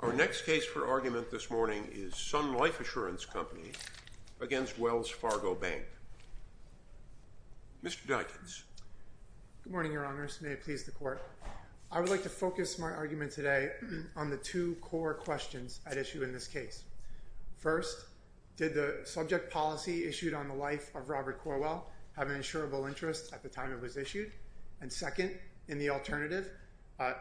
Our next case for argument this morning is Sun Life Assurance Company v. Wells Fargo Bank. Mr. Dikens. Good morning, Your Honors. May it please the Court. I would like to focus my argument today on the two core questions at issue in this case. First, did the subject policy issued on the life of Robert Corwell have an insurable interest at the time it was issued? And second, in the alternative,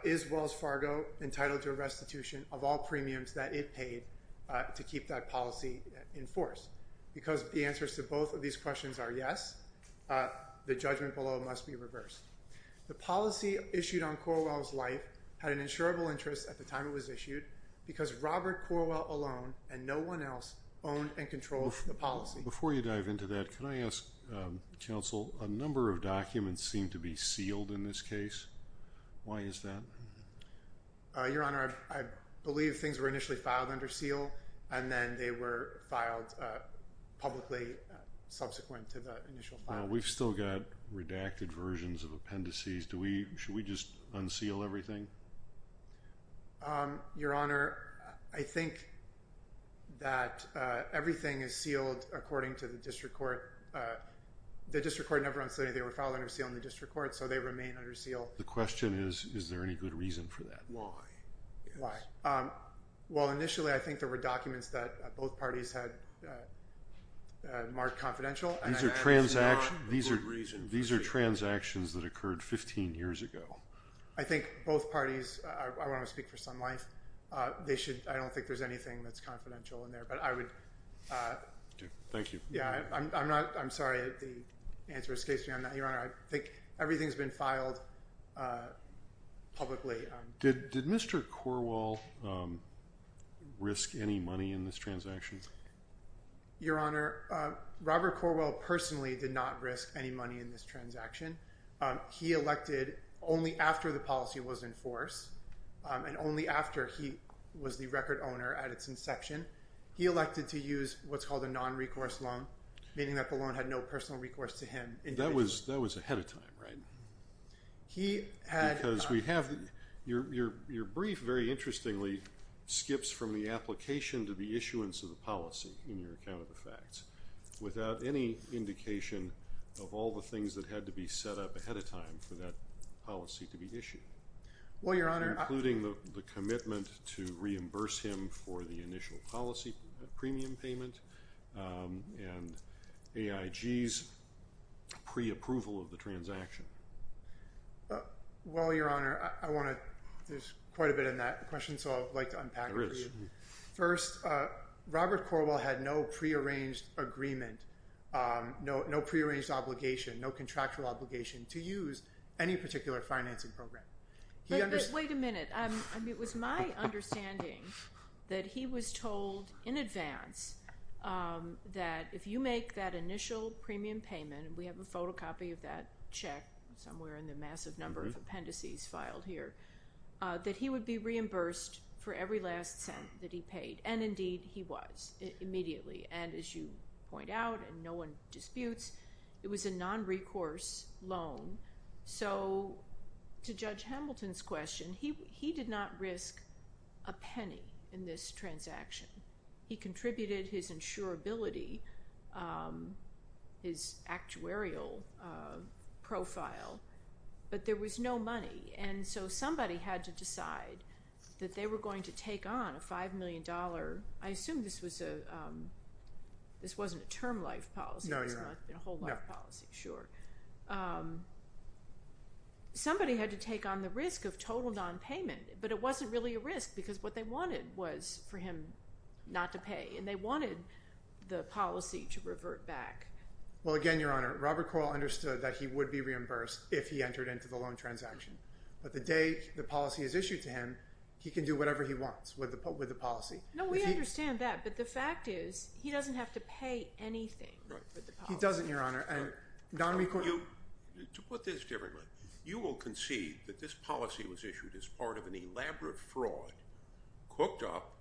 is Wells Fargo entitled to a restitution of all premiums that it paid to keep that policy in force? Because the answers to both of these questions are yes, the judgment below must be reversed. The policy issued on Corwell's life had an insurable interest at the time it was issued because Robert Corwell alone and no one else owned and controlled the policy. Before you dive into that, can I ask, Counsel, a number of documents seem to be sealed in this case. Why is that? Your Honor, I believe things were initially filed under seal and then they were filed publicly subsequent to the initial filing. We've still got redacted versions of appendices. Should we just unseal everything? Your Honor, I think that everything is sealed according to the district court. The district court never unsealed anything. They were filed under seal in the district court, so they remain under seal. The question is, is there any good reason for that? Why? Why? Well, initially I think there were documents that both parties had marked confidential. These are transactions that occurred 15 years ago. I think both parties, I want to speak for Sun Life, they should, I don't think there's anything that's confidential in there, but I would. Thank you. Yeah, I'm not, I'm sorry, the answer escapes me on that. Your Honor, I think everything's been filed publicly. Did Mr. Corwell risk any money in this transaction? Your Honor, Robert Corwell personally did not risk any money in this transaction. He elected only after the policy was in force and only after he was the record owner at its inception. He elected to use what's called a non-recourse loan, meaning that the loan had no personal recourse to him individually. That was ahead of time, right? Because we have, your brief, very interestingly, skips from the application to the issuance of the policy in your account of the facts without any indication of all the things that had to be set up ahead of time for that policy to be issued. Including the commitment to reimburse him for the initial policy premium payment and AIG's pre-approval of the transaction. Well, your Honor, I want to, there's quite a bit in that question, so I'd like to unpack it for you. First, Robert Corwell had no pre-arranged agreement, no pre-arranged obligation, no contractual obligation to use any particular financing program. Wait a minute, it was my understanding that he was told in advance that if you make that initial premium payment, and we have a photocopy of that check somewhere in the massive number of appendices filed here, that he would be reimbursed for every last cent that he paid. And indeed, he was, immediately. And as you point out, and no one disputes, it was a non-recourse loan. So, to Judge Hamilton's question, he did not risk a penny in this transaction. He contributed his insurability, his actuarial profile, but there was no money. And so somebody had to decide that they were going to take on a $5 million, I assume this was a, this wasn't a term life policy. No, you're right. It was a whole life policy, sure. Somebody had to take on the risk of total non-payment, but it wasn't really a risk because what they wanted was for him not to pay. And they wanted the policy to revert back. Well, again, Your Honor, Robert Coel understood that he would be reimbursed if he entered into the loan transaction. But the day the policy is issued to him, he can do whatever he wants with the policy. No, we understand that, but the fact is he doesn't have to pay anything for the policy. He doesn't, Your Honor. To put this differently, you will concede that this policy was issued as part of an elaborate fraud cooked up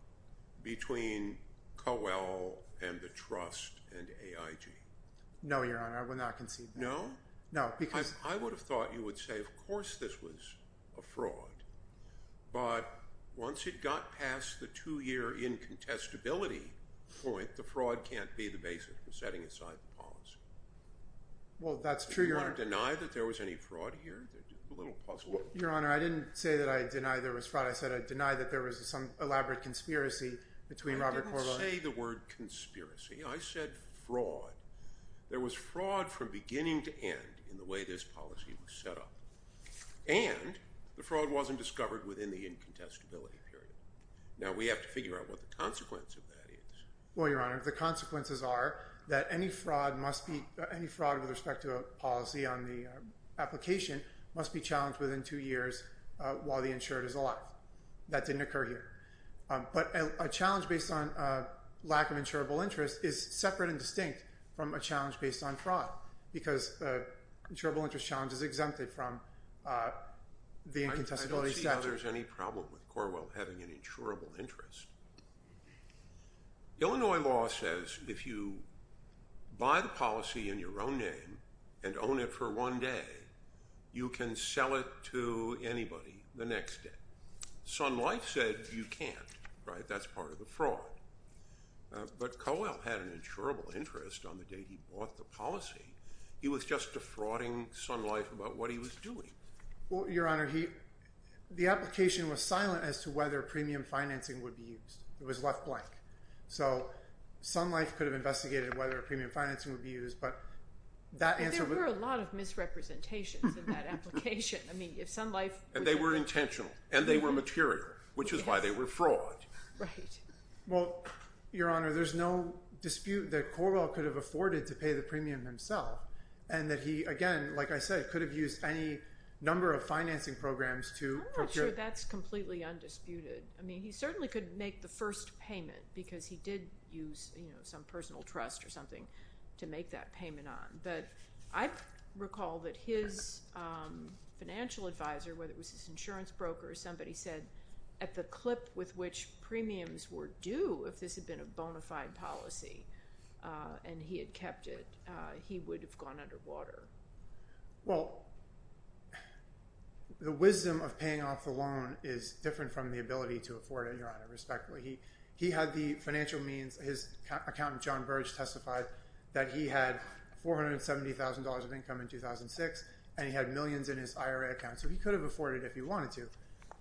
between Coel and the trust and AIG? No, Your Honor, I will not concede that. No? No, because – I would have thought you would say of course this was a fraud. But once it got past the two-year incontestability point, the fraud can't be the basis for setting aside the policy. Well, that's true, Your Honor. Do you want to deny that there was any fraud here? A little puzzle. Your Honor, I didn't say that I deny there was fraud. I said I deny that there was some elaborate conspiracy between Robert Coel and – I didn't say the word conspiracy. I said fraud. There was fraud from beginning to end in the way this policy was set up. And the fraud wasn't discovered within the incontestability period. Now, we have to figure out what the consequence of that is. Well, Your Honor, the consequences are that any fraud must be – any fraud with respect to a policy on the application must be challenged within two years while the insured is alive. That didn't occur here. But a challenge based on lack of insurable interest is separate and distinct from a challenge based on fraud because insurable interest challenge is exempted from the incontestability statute. I don't see how there's any problem with Corwell having an insurable interest. Illinois law says if you buy the policy in your own name and own it for one day, you can sell it to anybody the next day. Sun Life said you can't. That's part of the fraud. But Coel had an insurable interest on the day he bought the policy. He was just defrauding Sun Life about what he was doing. Well, Your Honor, the application was silent as to whether premium financing would be used. It was left blank. So Sun Life could have investigated whether premium financing would be used, but that answer would – But there were a lot of misrepresentations in that application. I mean if Sun Life – And they were intentional and they were material, which is why they were fraud. Right. Well, Your Honor, there's no dispute that Corwell could have afforded to pay the premium himself and that he, again, like I said, could have used any number of financing programs to procure – I'm not sure that's completely undisputed. I mean he certainly could make the first payment because he did use some personal trust or something to make that payment on. But I recall that his financial advisor, whether it was his insurance broker or somebody, said at the clip with which premiums were due, if this had been a bona fide policy and he had kept it, he would have gone underwater. Well, the wisdom of paying off the loan is different from the ability to afford it, Your Honor, respectfully. He had the financial means – his accountant, John Burge, testified that he had $470,000 of income in 2006 and he had millions in his IRA account. So he could have afforded it if he wanted to.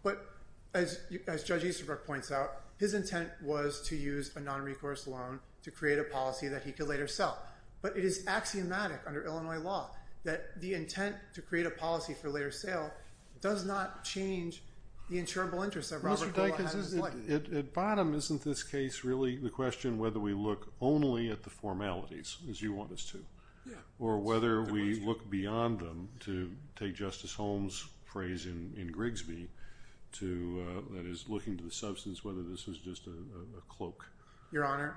But as Judge Easterbrook points out, his intent was to use a nonrecourse loan to create a policy that he could later sell. But it is axiomatic under Illinois law that the intent to create a policy for later sale does not change the insurable interests that Robert Corwell had in his life. But Mr. Dikus, at bottom, isn't this case really the question whether we look only at the formalities, as you want us to, or whether we look beyond them to take Justice Holmes' phrase in Grigsby to – that is, looking to the substance, whether this was just a cloak. Your Honor,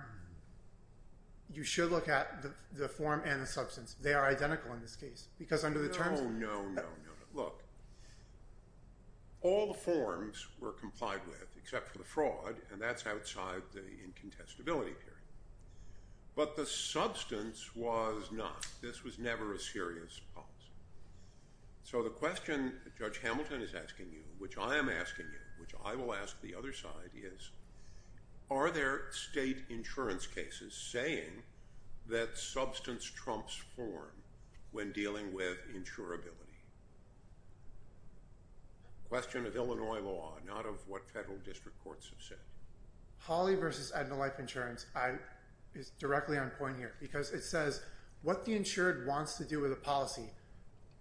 you should look at the form and the substance. They are identical in this case because under the terms – Oh, no, no, no. Look, all the forms were complied with except for the fraud, and that's outside the incontestability period. But the substance was not. This was never a serious policy. So the question Judge Hamilton is asking you, which I am asking you, which I will ask the other side, are there state insurance cases saying that substance trumps form when dealing with insurability? Question of Illinois law, not of what federal district courts have said. Hawley v. Edna Life Insurance is directly on point here because it says what the insured wants to do with a policy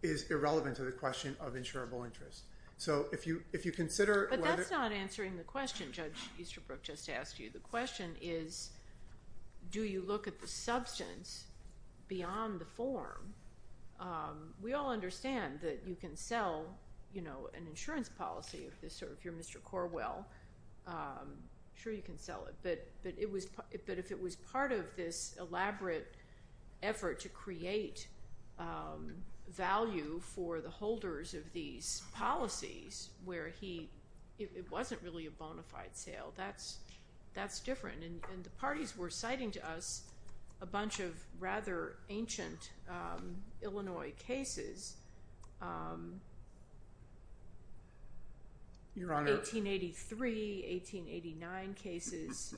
is irrelevant to the question of insurable interests. So if you consider whether – But that's not answering the question Judge Easterbrook just asked you. The question is do you look at the substance beyond the form? We all understand that you can sell an insurance policy if you're Mr. Corwell. Sure, you can sell it, but if it was part of this elaborate effort to create value for the holders of these policies where he – it wasn't really a bona fide sale. That's different, and the parties were citing to us a bunch of rather ancient Illinois cases. Your Honor – 1883, 1889 cases,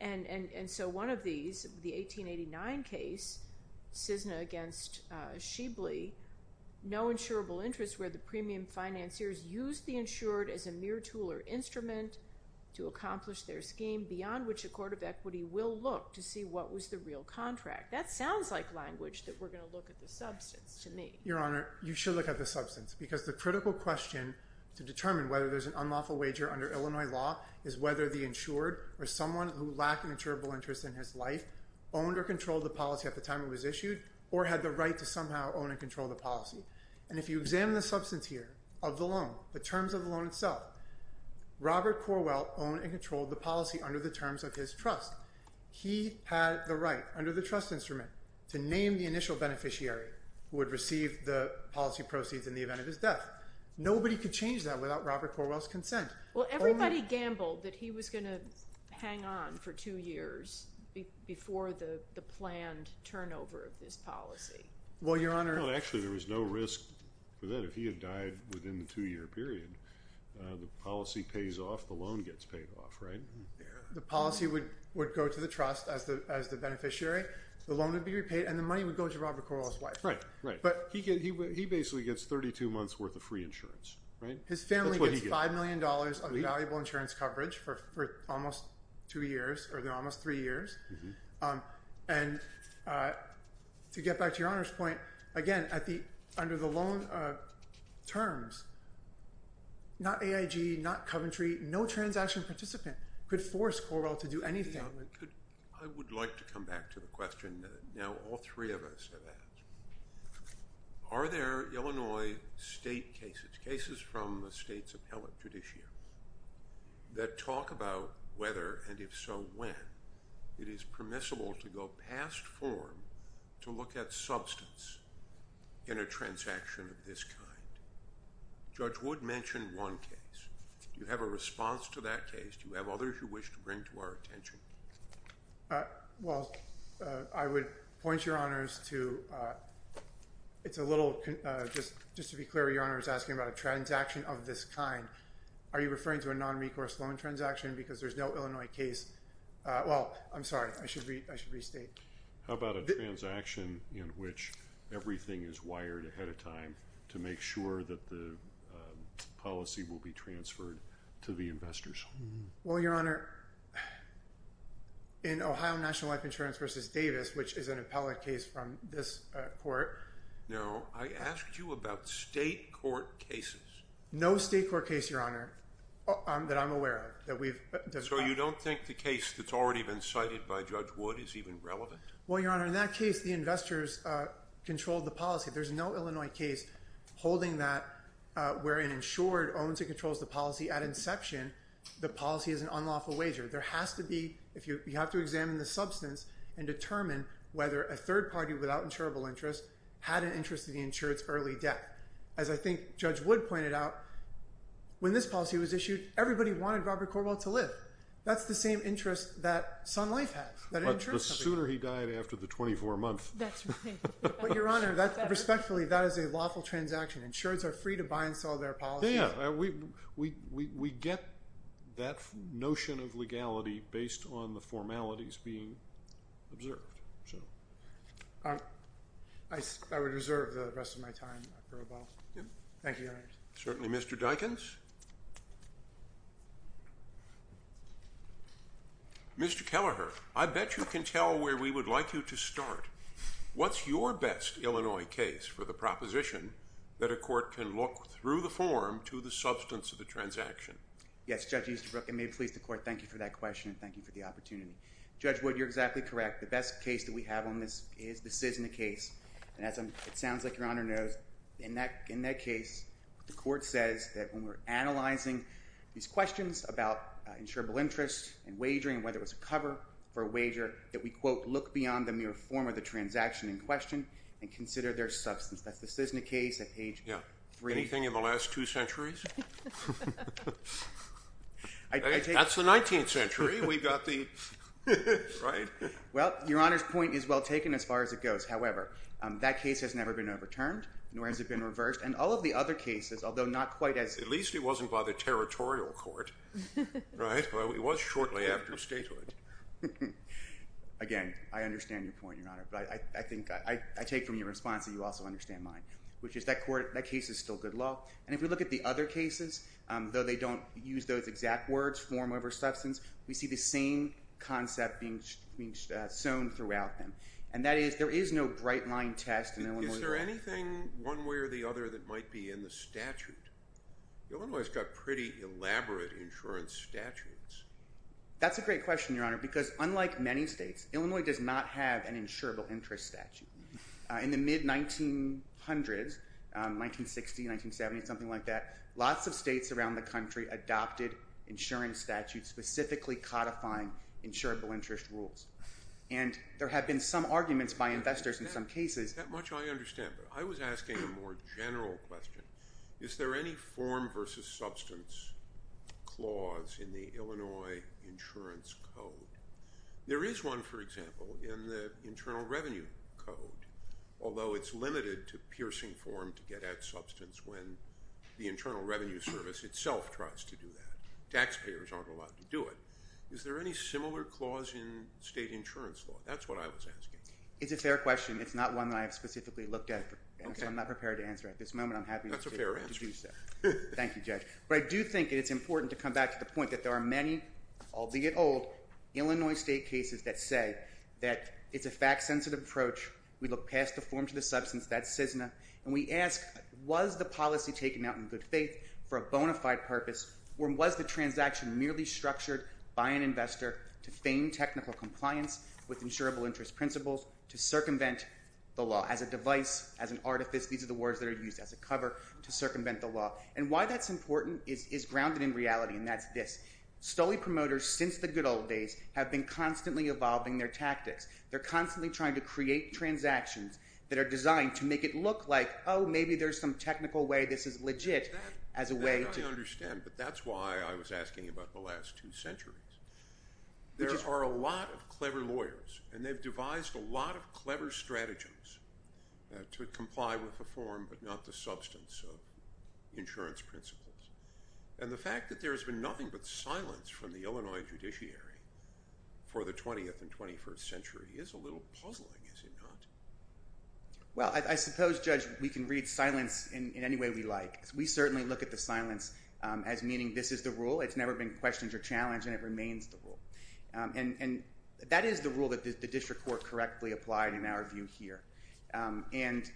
and so one of these, the 1889 case, Cisna against Shibley, no insurable interest where the premium financiers used the insured as a mere tool or instrument to accomplish their scheme beyond which a court of equity will look to see what was the real contract. That sounds like language that we're going to look at the substance to me. Your Honor, you should look at the substance because the critical question to determine whether there's an unlawful wager under Illinois law is whether the insured or someone who lacked an insurable interest in his life owned or controlled the policy at the time it was issued or had the right to somehow own and control the policy. And if you examine the substance here of the loan, the terms of the loan itself, Robert Corwell owned and controlled the policy under the terms of his trust. He had the right under the trust instrument to name the initial beneficiary who would receive the policy proceeds in the event of his death. Nobody could change that without Robert Corwell's consent. Well, everybody gambled that he was going to hang on for two years before the planned turnover of this policy. Well, Your Honor – Well, actually, there was no risk for that. If he had died within the two-year period, the policy pays off, the loan gets paid off, right? The policy would go to the trust as the beneficiary. The loan would be repaid, and the money would go to Robert Corwell's wife. Right, right. But he basically gets 32 months' worth of free insurance, right? That's what he gets. His family gets $5 million of valuable insurance coverage for almost two years or almost three years. And to get back to Your Honor's point, again, under the loan terms, not AIG, not Coventry, no transaction participant could force Corwell to do anything. I would like to come back to the question that now all three of us have asked. Are there Illinois state cases, cases from the state's appellate judiciary, that talk about whether, and if so, when, it is permissible to go past form to look at substance in a transaction of this kind? Judge Wood mentioned one case. Do you have a response to that case? Do you have others you wish to bring to our attention? Well, I would point Your Honor's to – it's a little – just to be clear, Your Honor is asking about a transaction of this kind. Are you referring to a non-recourse loan transaction because there's no Illinois case? Well, I'm sorry. I should restate. How about a transaction in which everything is wired ahead of time to make sure that the policy will be transferred to the investors? Well, Your Honor, in Ohio National Life Insurance v. Davis, which is an appellate case from this court. Now, I asked you about state court cases. No state court case, Your Honor, that I'm aware of that we've discussed. So you don't think the case that's already been cited by Judge Wood is even relevant? Well, Your Honor, in that case, the investors controlled the policy. There's no Illinois case holding that where an insured owns and controls the policy at inception, the policy is an unlawful wager. There has to be – you have to examine the substance and determine whether a third party without insurable interest had an interest in the insured's early death. As I think Judge Wood pointed out, when this policy was issued, everybody wanted Robert Corwell to live. That's the same interest that Sun Life has, that an insured company has. But the sooner he died after the 24 months. That's right. But, Your Honor, respectfully, that is a lawful transaction. Insureds are free to buy and sell their policies. Yeah, yeah. We get that notion of legality based on the formalities being observed. I would reserve the rest of my time. Thank you, Your Honor. Certainly, Mr. Dikens. Mr. Kelleher, I bet you can tell where we would like you to start. What's your best Illinois case for the proposition that a court can look through the form to the substance of the transaction? Yes, Judge Easterbrook, and may it please the Court, thank you for that question and thank you for the opportunity. Judge Wood, you're exactly correct. The best case that we have on this is the CISNA case. And as it sounds like Your Honor knows, in that case, the court says that when we're analyzing these questions about insurable interest and wagering and whether it was a cover for a wager, that we, quote, look beyond the mere form of the transaction in question and consider their substance. That's the CISNA case at page 3. Yeah. Anything in the last two centuries? That's the 19th century. We've got the, right? Well, Your Honor's point is well taken as far as it goes. However, that case has never been overturned nor has it been reversed. And all of the other cases, although not quite as... At least it wasn't by the territorial court, right? It was shortly after statehood. Again, I understand your point, Your Honor. But I think I take from your response that you also understand mine, which is that case is still good law. And if we look at the other cases, though they don't use those exact words, form over substance, we see the same concept being sown throughout them. And that is there is no bright line test in Illinois. Is there anything one way or the other that might be in the statute? Illinois has got pretty elaborate insurance statutes. That's a great question, Your Honor, because unlike many states, Illinois does not have an insurable interest statute. In the mid-1900s, 1960, 1970, something like that, lots of states around the country adopted insurance statutes specifically codifying insurable interest rules. And there have been some arguments by investors in some cases... That much I understand. But I was asking a more general question. Is there any form versus substance clause in the Illinois insurance code? There is one, for example, in the Internal Revenue Code, although it's limited to piercing form to get at substance when the Internal Revenue Service itself tries to do that. Taxpayers aren't allowed to do it. Is there any similar clause in state insurance law? That's what I was asking. It's a fair question. It's not one that I have specifically looked at, so I'm not prepared to answer it at this moment. I'm happy to do so. That's a fair answer. Thank you, Judge. But I do think it's important to come back to the point that there are many, albeit old, Illinois state cases that say that it's a fact-sensitive approach. We look past the form to the substance. That's CISNA. And we ask was the policy taken out in good faith for a bona fide purpose or was the transaction merely structured by an investor to feign technical compliance with insurable interest principles to circumvent the law as a device, as an artifice. These are the words that are used as a cover to circumvent the law. And why that's important is grounded in reality, and that's this. Stoley promoters since the good old days have been constantly evolving their tactics. They're constantly trying to create transactions that are designed to make it look like, oh, maybe there's some technical way this is legit as a way to I understand, but that's why I was asking about the last two centuries. There are a lot of clever lawyers, and they've devised a lot of clever strategies to comply with the form but not the substance of insurance principles. And the fact that there has been nothing but silence from the Illinois judiciary for the 20th and 21st century is a little puzzling, is it not? Well, I suppose, Judge, we can read silence in any way we like. We certainly look at the silence as meaning this is the rule. It's never been questioned or challenged, and it remains the rule. And that is the rule that the district court correctly applied in our view here. And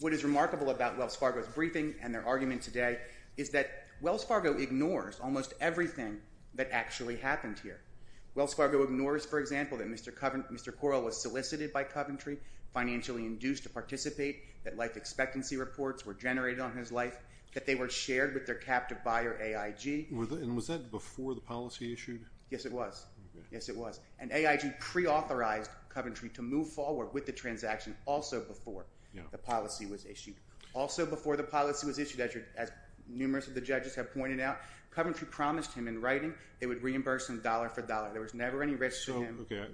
what is remarkable about Wells Fargo's briefing and their argument today is that Wells Fargo ignores almost everything that actually happened here. Wells Fargo ignores, for example, that Mr. Correll was solicited by Coventry, financially induced to participate, that life expectancy reports were generated on his life, that they were shared with their captive buyer AIG. And was that before the policy issued? Yes, it was. Yes, it was. And AIG preauthorized Coventry to move forward with the transaction also before the policy was issued. Also before the policy was issued, as numerous of the judges have pointed out, Coventry promised him in writing they would reimburse him dollar for dollar. There was never any risk to him. Okay.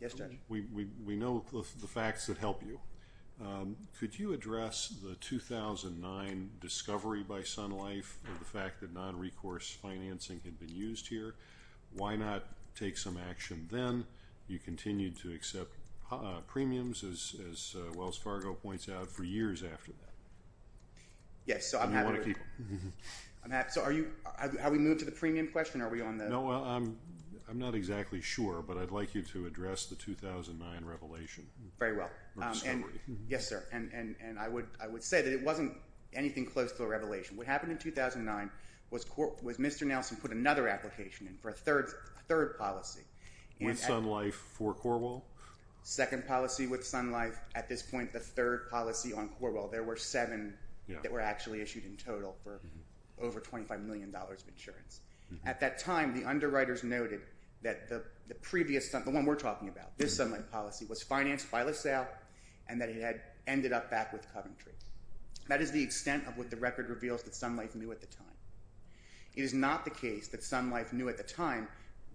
Yes, Judge. We know the facts that help you. Could you address the 2009 discovery by Sun Life of the fact that non-recourse financing had been used here? Why not take some action then? You continued to accept premiums, as Wells Fargo points out, for years after that. Yes, so I'm happy. And you want to keep them. I'm happy. So are you – have we moved to the premium question? Are we on the – No, I'm not exactly sure, but I'd like you to address the 2009 revelation. Very well. Or discovery. Yes, sir. And I would say that it wasn't anything close to a revelation. What happened in 2009 was Mr. Nelson put another application in for a third policy. With Sun Life for Corwell? Second policy with Sun Life. At this point, the third policy on Corwell. There were seven that were actually issued in total for over $25 million of insurance. At that time, the underwriters noted that the previous – the one we're talking about, this Sun Life policy, was financed by LaSalle and that it had ended up back with Coventry. That is the extent of what the record reveals that Sun Life knew at the time. It is not the case that Sun Life knew at the time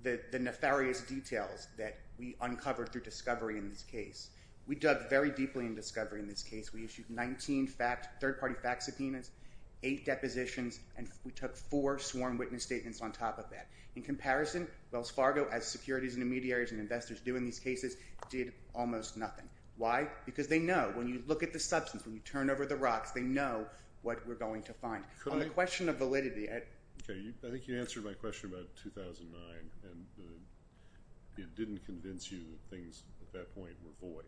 the nefarious details that we uncovered through discovery in this case. We dug very deeply in discovery in this case. We issued 19 third-party fact subpoenas, eight depositions, and we took four sworn witness statements on top of that. In comparison, Wells Fargo, as securities intermediaries and investors do in these cases, did almost nothing. Why? Because they know. When you look at the substance, when you turn over the rocks, they know what we're going to find. On the question of validity. I think you answered my question about 2009, and it didn't convince you that things at that point were void.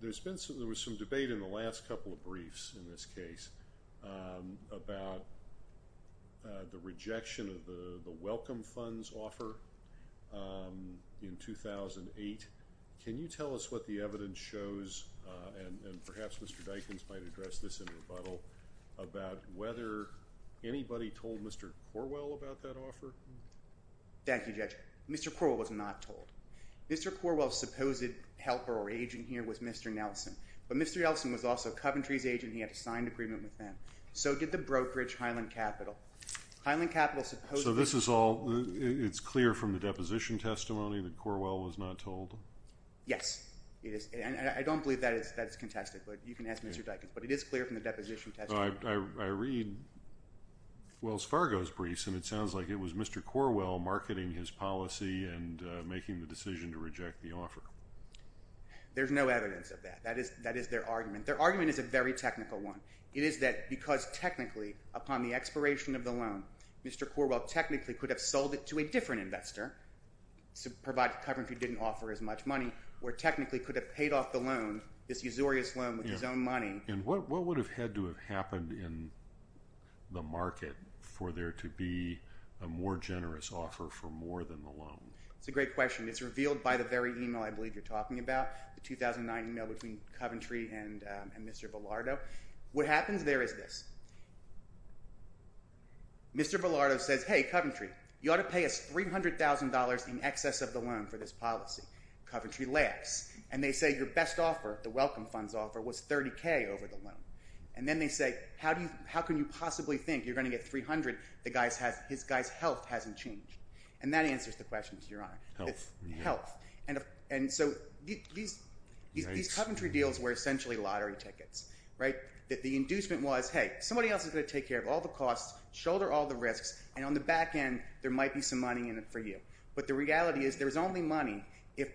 There was some debate in the last couple of briefs in this case about the rejection of the Welcome Funds offer in 2008. Can you tell us what the evidence shows, and perhaps Mr. Dikens might address this in rebuttal, about whether anybody told Mr. Corwell about that offer? Thank you, Judge. Mr. Corwell's supposed helper or agent here was Mr. Nelson. But Mr. Nelson was also Coventry's agent. He had a signed agreement with them. So did the brokerage Highland Capital. Highland Capital supposedly— So this is all—it's clear from the deposition testimony that Corwell was not told? Yes, it is. And I don't believe that is contested, but you can ask Mr. Dikens. But it is clear from the deposition testimony. I read Wells Fargo's briefs, and it sounds like it was Mr. Corwell marketing his policy and making the decision to reject the offer. There's no evidence of that. That is their argument. Their argument is a very technical one. It is that because technically, upon the expiration of the loan, Mr. Corwell technically could have sold it to a different investor, provided Coventry didn't offer as much money, or technically could have paid off the loan, this usurious loan with his own money. And what would have had to have happened in the market for there to be a more generous offer for more than the loan? It's a great question. It's revealed by the very email I believe you're talking about, the 2009 email between Coventry and Mr. Villardo. What happens there is this. Mr. Villardo says, hey, Coventry, you ought to pay us $300,000 in excess of the loan for this policy. Coventry laughs. And they say your best offer, the welcome funds offer, was $30,000 over the loan. And then they say, how can you possibly think you're going to get $300,000? The guy's health hasn't changed. And that answers the question, Your Honor. Health. Health. And so these Coventry deals were essentially lottery tickets, right? The inducement was, hey, somebody else is going to take care of all the costs, shoulder all the risks, and on the back end, there might be some money in it for you. But the reality is there's only money if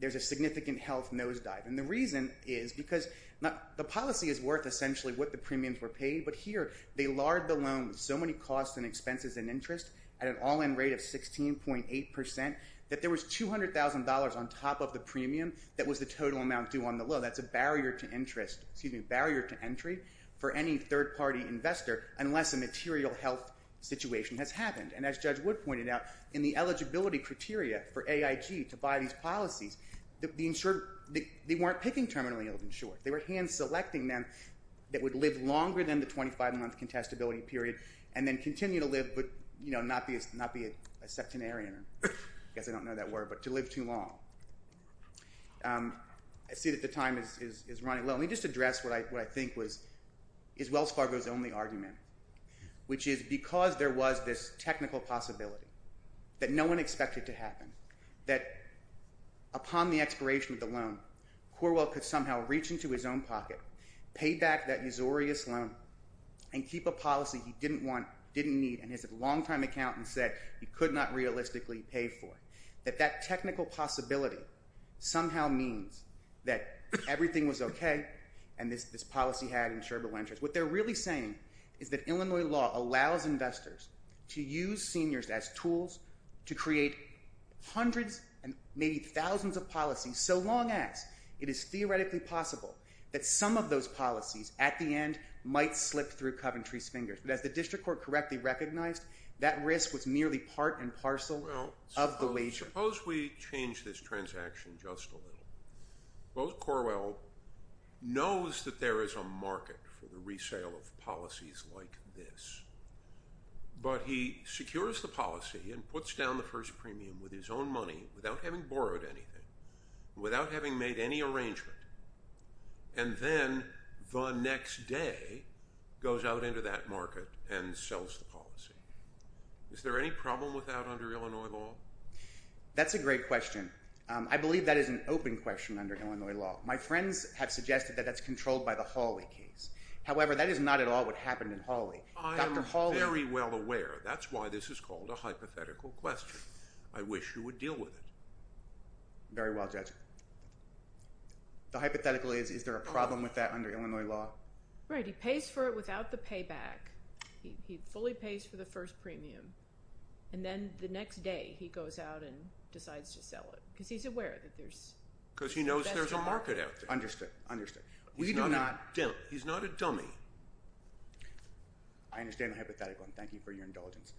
there's a significant health nosedive. And the reason is because the policy is worth essentially what the premiums were paid, but here they lard the loan with so many costs and expenses and interest at an all-in rate of 16.8% that there was $200,000 on top of the premium that was the total amount due on the loan. That's a barrier to interest, excuse me, barrier to entry for any third-party investor unless a material health situation has happened. And as Judge Wood pointed out, in the eligibility criteria for AIG to buy these policies, they weren't picking terminally ill insured. They were hand-selecting them that would live longer than the 25-month contestability period and then continue to live but not be a septenarian, I guess I don't know that word, but to live too long. I see that the time is running low. Let me just address what I think is Wells Fargo's only argument, which is because there was this technical possibility that no one expected to happen, that upon the expiration of the loan, Corwell could somehow reach into his own pocket, pay back that usurious loan, and keep a policy he didn't want, didn't need, and his longtime accountant said he could not realistically pay for. That that technical possibility somehow means that everything was okay and this policy had insurable interest. What they're really saying is that Illinois law allows investors to use seniors as tools to create hundreds and maybe thousands of policies so long as it is theoretically possible that some of those policies at the end might slip through Coventry's fingers. But as the district court correctly recognized, that risk was merely part and parcel of the wager. Suppose we change this transaction just a little. Well, Corwell knows that there is a market for the resale of policies like this, but he secures the policy and puts down the first premium with his own money without having borrowed anything, without having made any arrangement, and then the next day goes out into that market and sells the policy. Is there any problem with that under Illinois law? That's a great question. I believe that is an open question under Illinois law. My friends have suggested that that's controlled by the Hawley case. However, that is not at all what happened in Hawley. I am very well aware. That's why this is called a hypothetical question. I wish you would deal with it. Very well, Judge. The hypothetical is, is there a problem with that under Illinois law? Right. He pays for it without the payback. He fully pays for the first premium, and then the next day he goes out and decides to sell it because he's aware that there's Because he knows there's a market out there. Understood, understood. He's not a dummy. I understand the hypothetical, and thank you for your indulgence.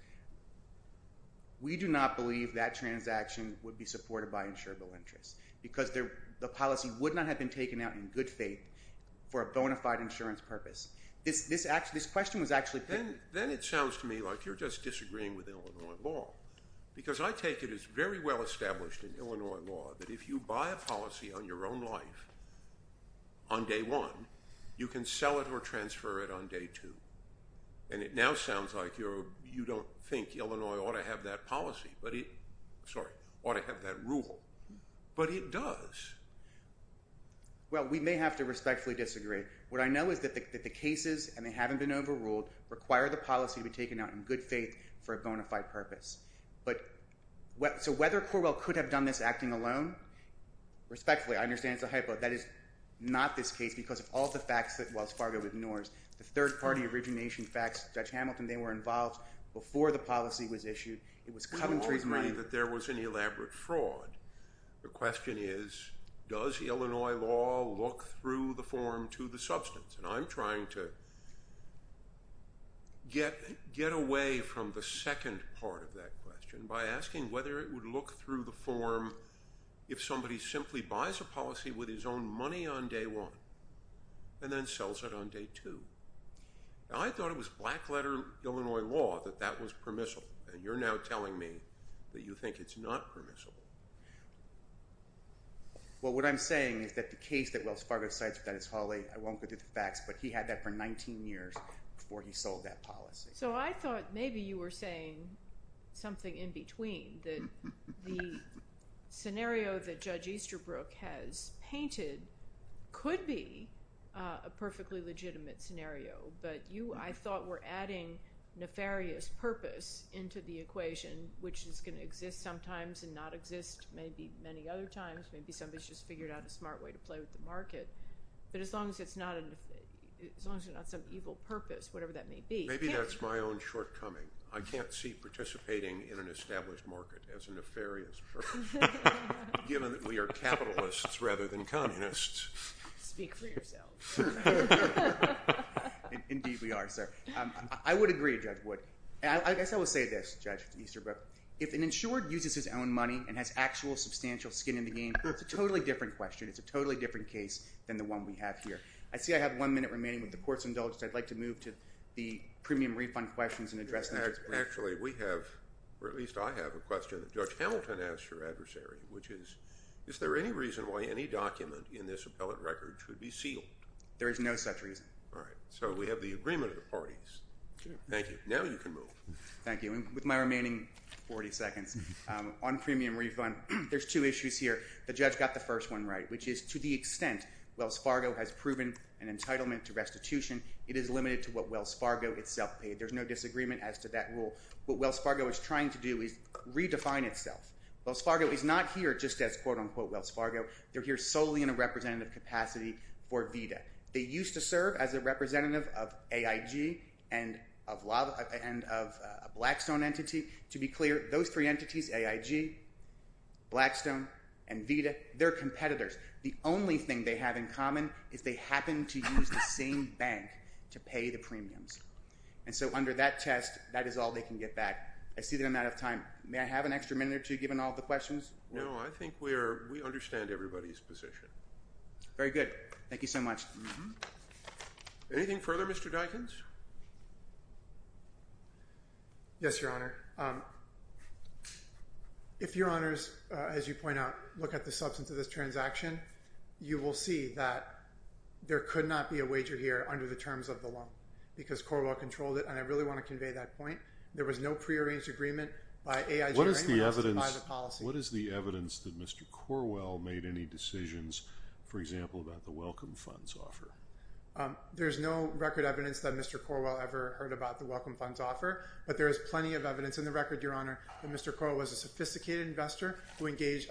We do not believe that transaction would be supported by insurable interest because the policy would not have been taken out in good faith for a bona fide insurance purpose. Then it sounds to me like you're just disagreeing with Illinois law because I take it as very well established in Illinois law that if you buy a policy on your own life on day one, you can sell it or transfer it on day two, and it now sounds like you don't think Illinois ought to have that policy. Sorry, ought to have that rule, but it does. Well, we may have to respectfully disagree. What I know is that the cases, and they haven't been overruled, require the policy to be taken out in good faith for a bona fide purpose. But so whether Corwell could have done this acting alone, respectfully I understand it's a hypo, that is not this case because of all the facts that Wells Fargo ignores. The third party origination facts, Judge Hamilton, they were involved before the policy was issued. It was Coventry's money. We all agree that there was an elaborate fraud. The question is does Illinois law look through the form to the substance, and I'm trying to get away from the second part of that question by asking whether it would look through the form if somebody simply buys a policy with his own money on day one and then sells it on day two. I thought it was black letter Illinois law that that was permissible, and you're now telling me that you think it's not permissible. Well, what I'm saying is that the case that Wells Fargo cites with Dennis Hawley, I won't go through the facts, but he had that for 19 years before he sold that policy. So I thought maybe you were saying something in between, that the scenario that Judge Easterbrook has painted could be a perfectly legitimate scenario, but you, I thought, were adding nefarious purpose into the equation, which is going to exist sometimes and not exist maybe many other times. Maybe somebody's just figured out a smart way to play with the market. But as long as it's not some evil purpose, whatever that may be. Maybe that's my own shortcoming. I can't see participating in an established market as a nefarious purpose, given that we are capitalists rather than communists. Speak for yourself. Indeed we are, sir. I would agree, Judge Wood. I guess I will say this, Judge Easterbrook. If an insured uses his own money and has actual substantial skin in the game, it's a totally different question. It's a totally different case than the one we have here. I see I have one minute remaining with the court's indulgence. I'd like to move to the premium refund questions and address them. Actually, we have, or at least I have a question that Judge Hamilton asked her adversary, which is, is there any reason why any document in this appellate record should be sealed? There is no such reason. All right. So we have the agreement of the parties. Thank you. Now you can move. Thank you. With my remaining 40 seconds on premium refund, there's two issues here. The judge got the first one right, which is to the extent Wells Fargo has proven an entitlement to restitution, it is limited to what Wells Fargo itself paid. There's no disagreement as to that rule. What Wells Fargo is trying to do is redefine itself. Wells Fargo is not here just as, quote, unquote, Wells Fargo. They're here solely in a representative capacity for VITA. They used to serve as a representative of AIG and of Blackstone entity. To be clear, those three entities, AIG, Blackstone, and VITA, they're competitors. The only thing they have in common is they happen to use the same bank to pay the premiums. And so under that test, that is all they can get back. I see that I'm out of time. May I have an extra minute or two given all the questions? No, I think we understand everybody's position. Very good. Thank you so much. Anything further, Mr. Dikens? Yes, Your Honor. If Your Honors, as you point out, look at the substance of this transaction, you will see that there could not be a wager here under the terms of the loan because Corwell controlled it, and I really want to convey that point. There was no prearranged agreement by AIG or anyone else to buy the policy. What is the evidence that Mr. Corwell made any decisions, for example, about the welcome funds offer? There's no record evidence that Mr. Corwell ever heard about the welcome funds offer, but there is plenty of evidence in the record, Your Honor, that Mr. Corwell was a sophisticated investor who engaged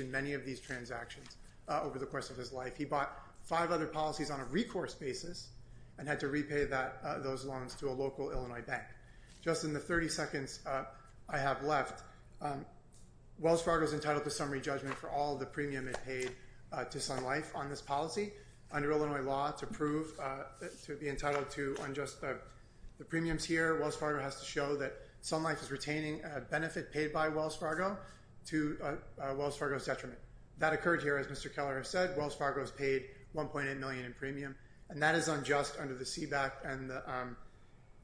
in many of these transactions over the course of his life. He bought five other policies on a recourse basis and had to repay those loans to a local Illinois bank. Just in the 30 seconds I have left, Wells Fargo is entitled to summary judgment for all the premium it paid to Sun Life on this policy. Under Illinois law, to be entitled to unjust premiums here, Wells Fargo has to show that Sun Life is retaining a benefit paid by Wells Fargo to Wells Fargo's detriment. That occurred here, as Mr. Keller has said. Wells Fargo is paid $1.8 million in premium, and that is unjust under the Seebeck and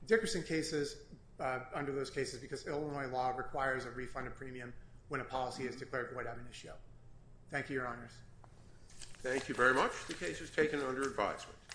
Dickerson cases, because Illinois law requires a refund of premium when a policy is declared void of an issue. Thank you, Your Honors. Thank you very much. The case is taken under advisement.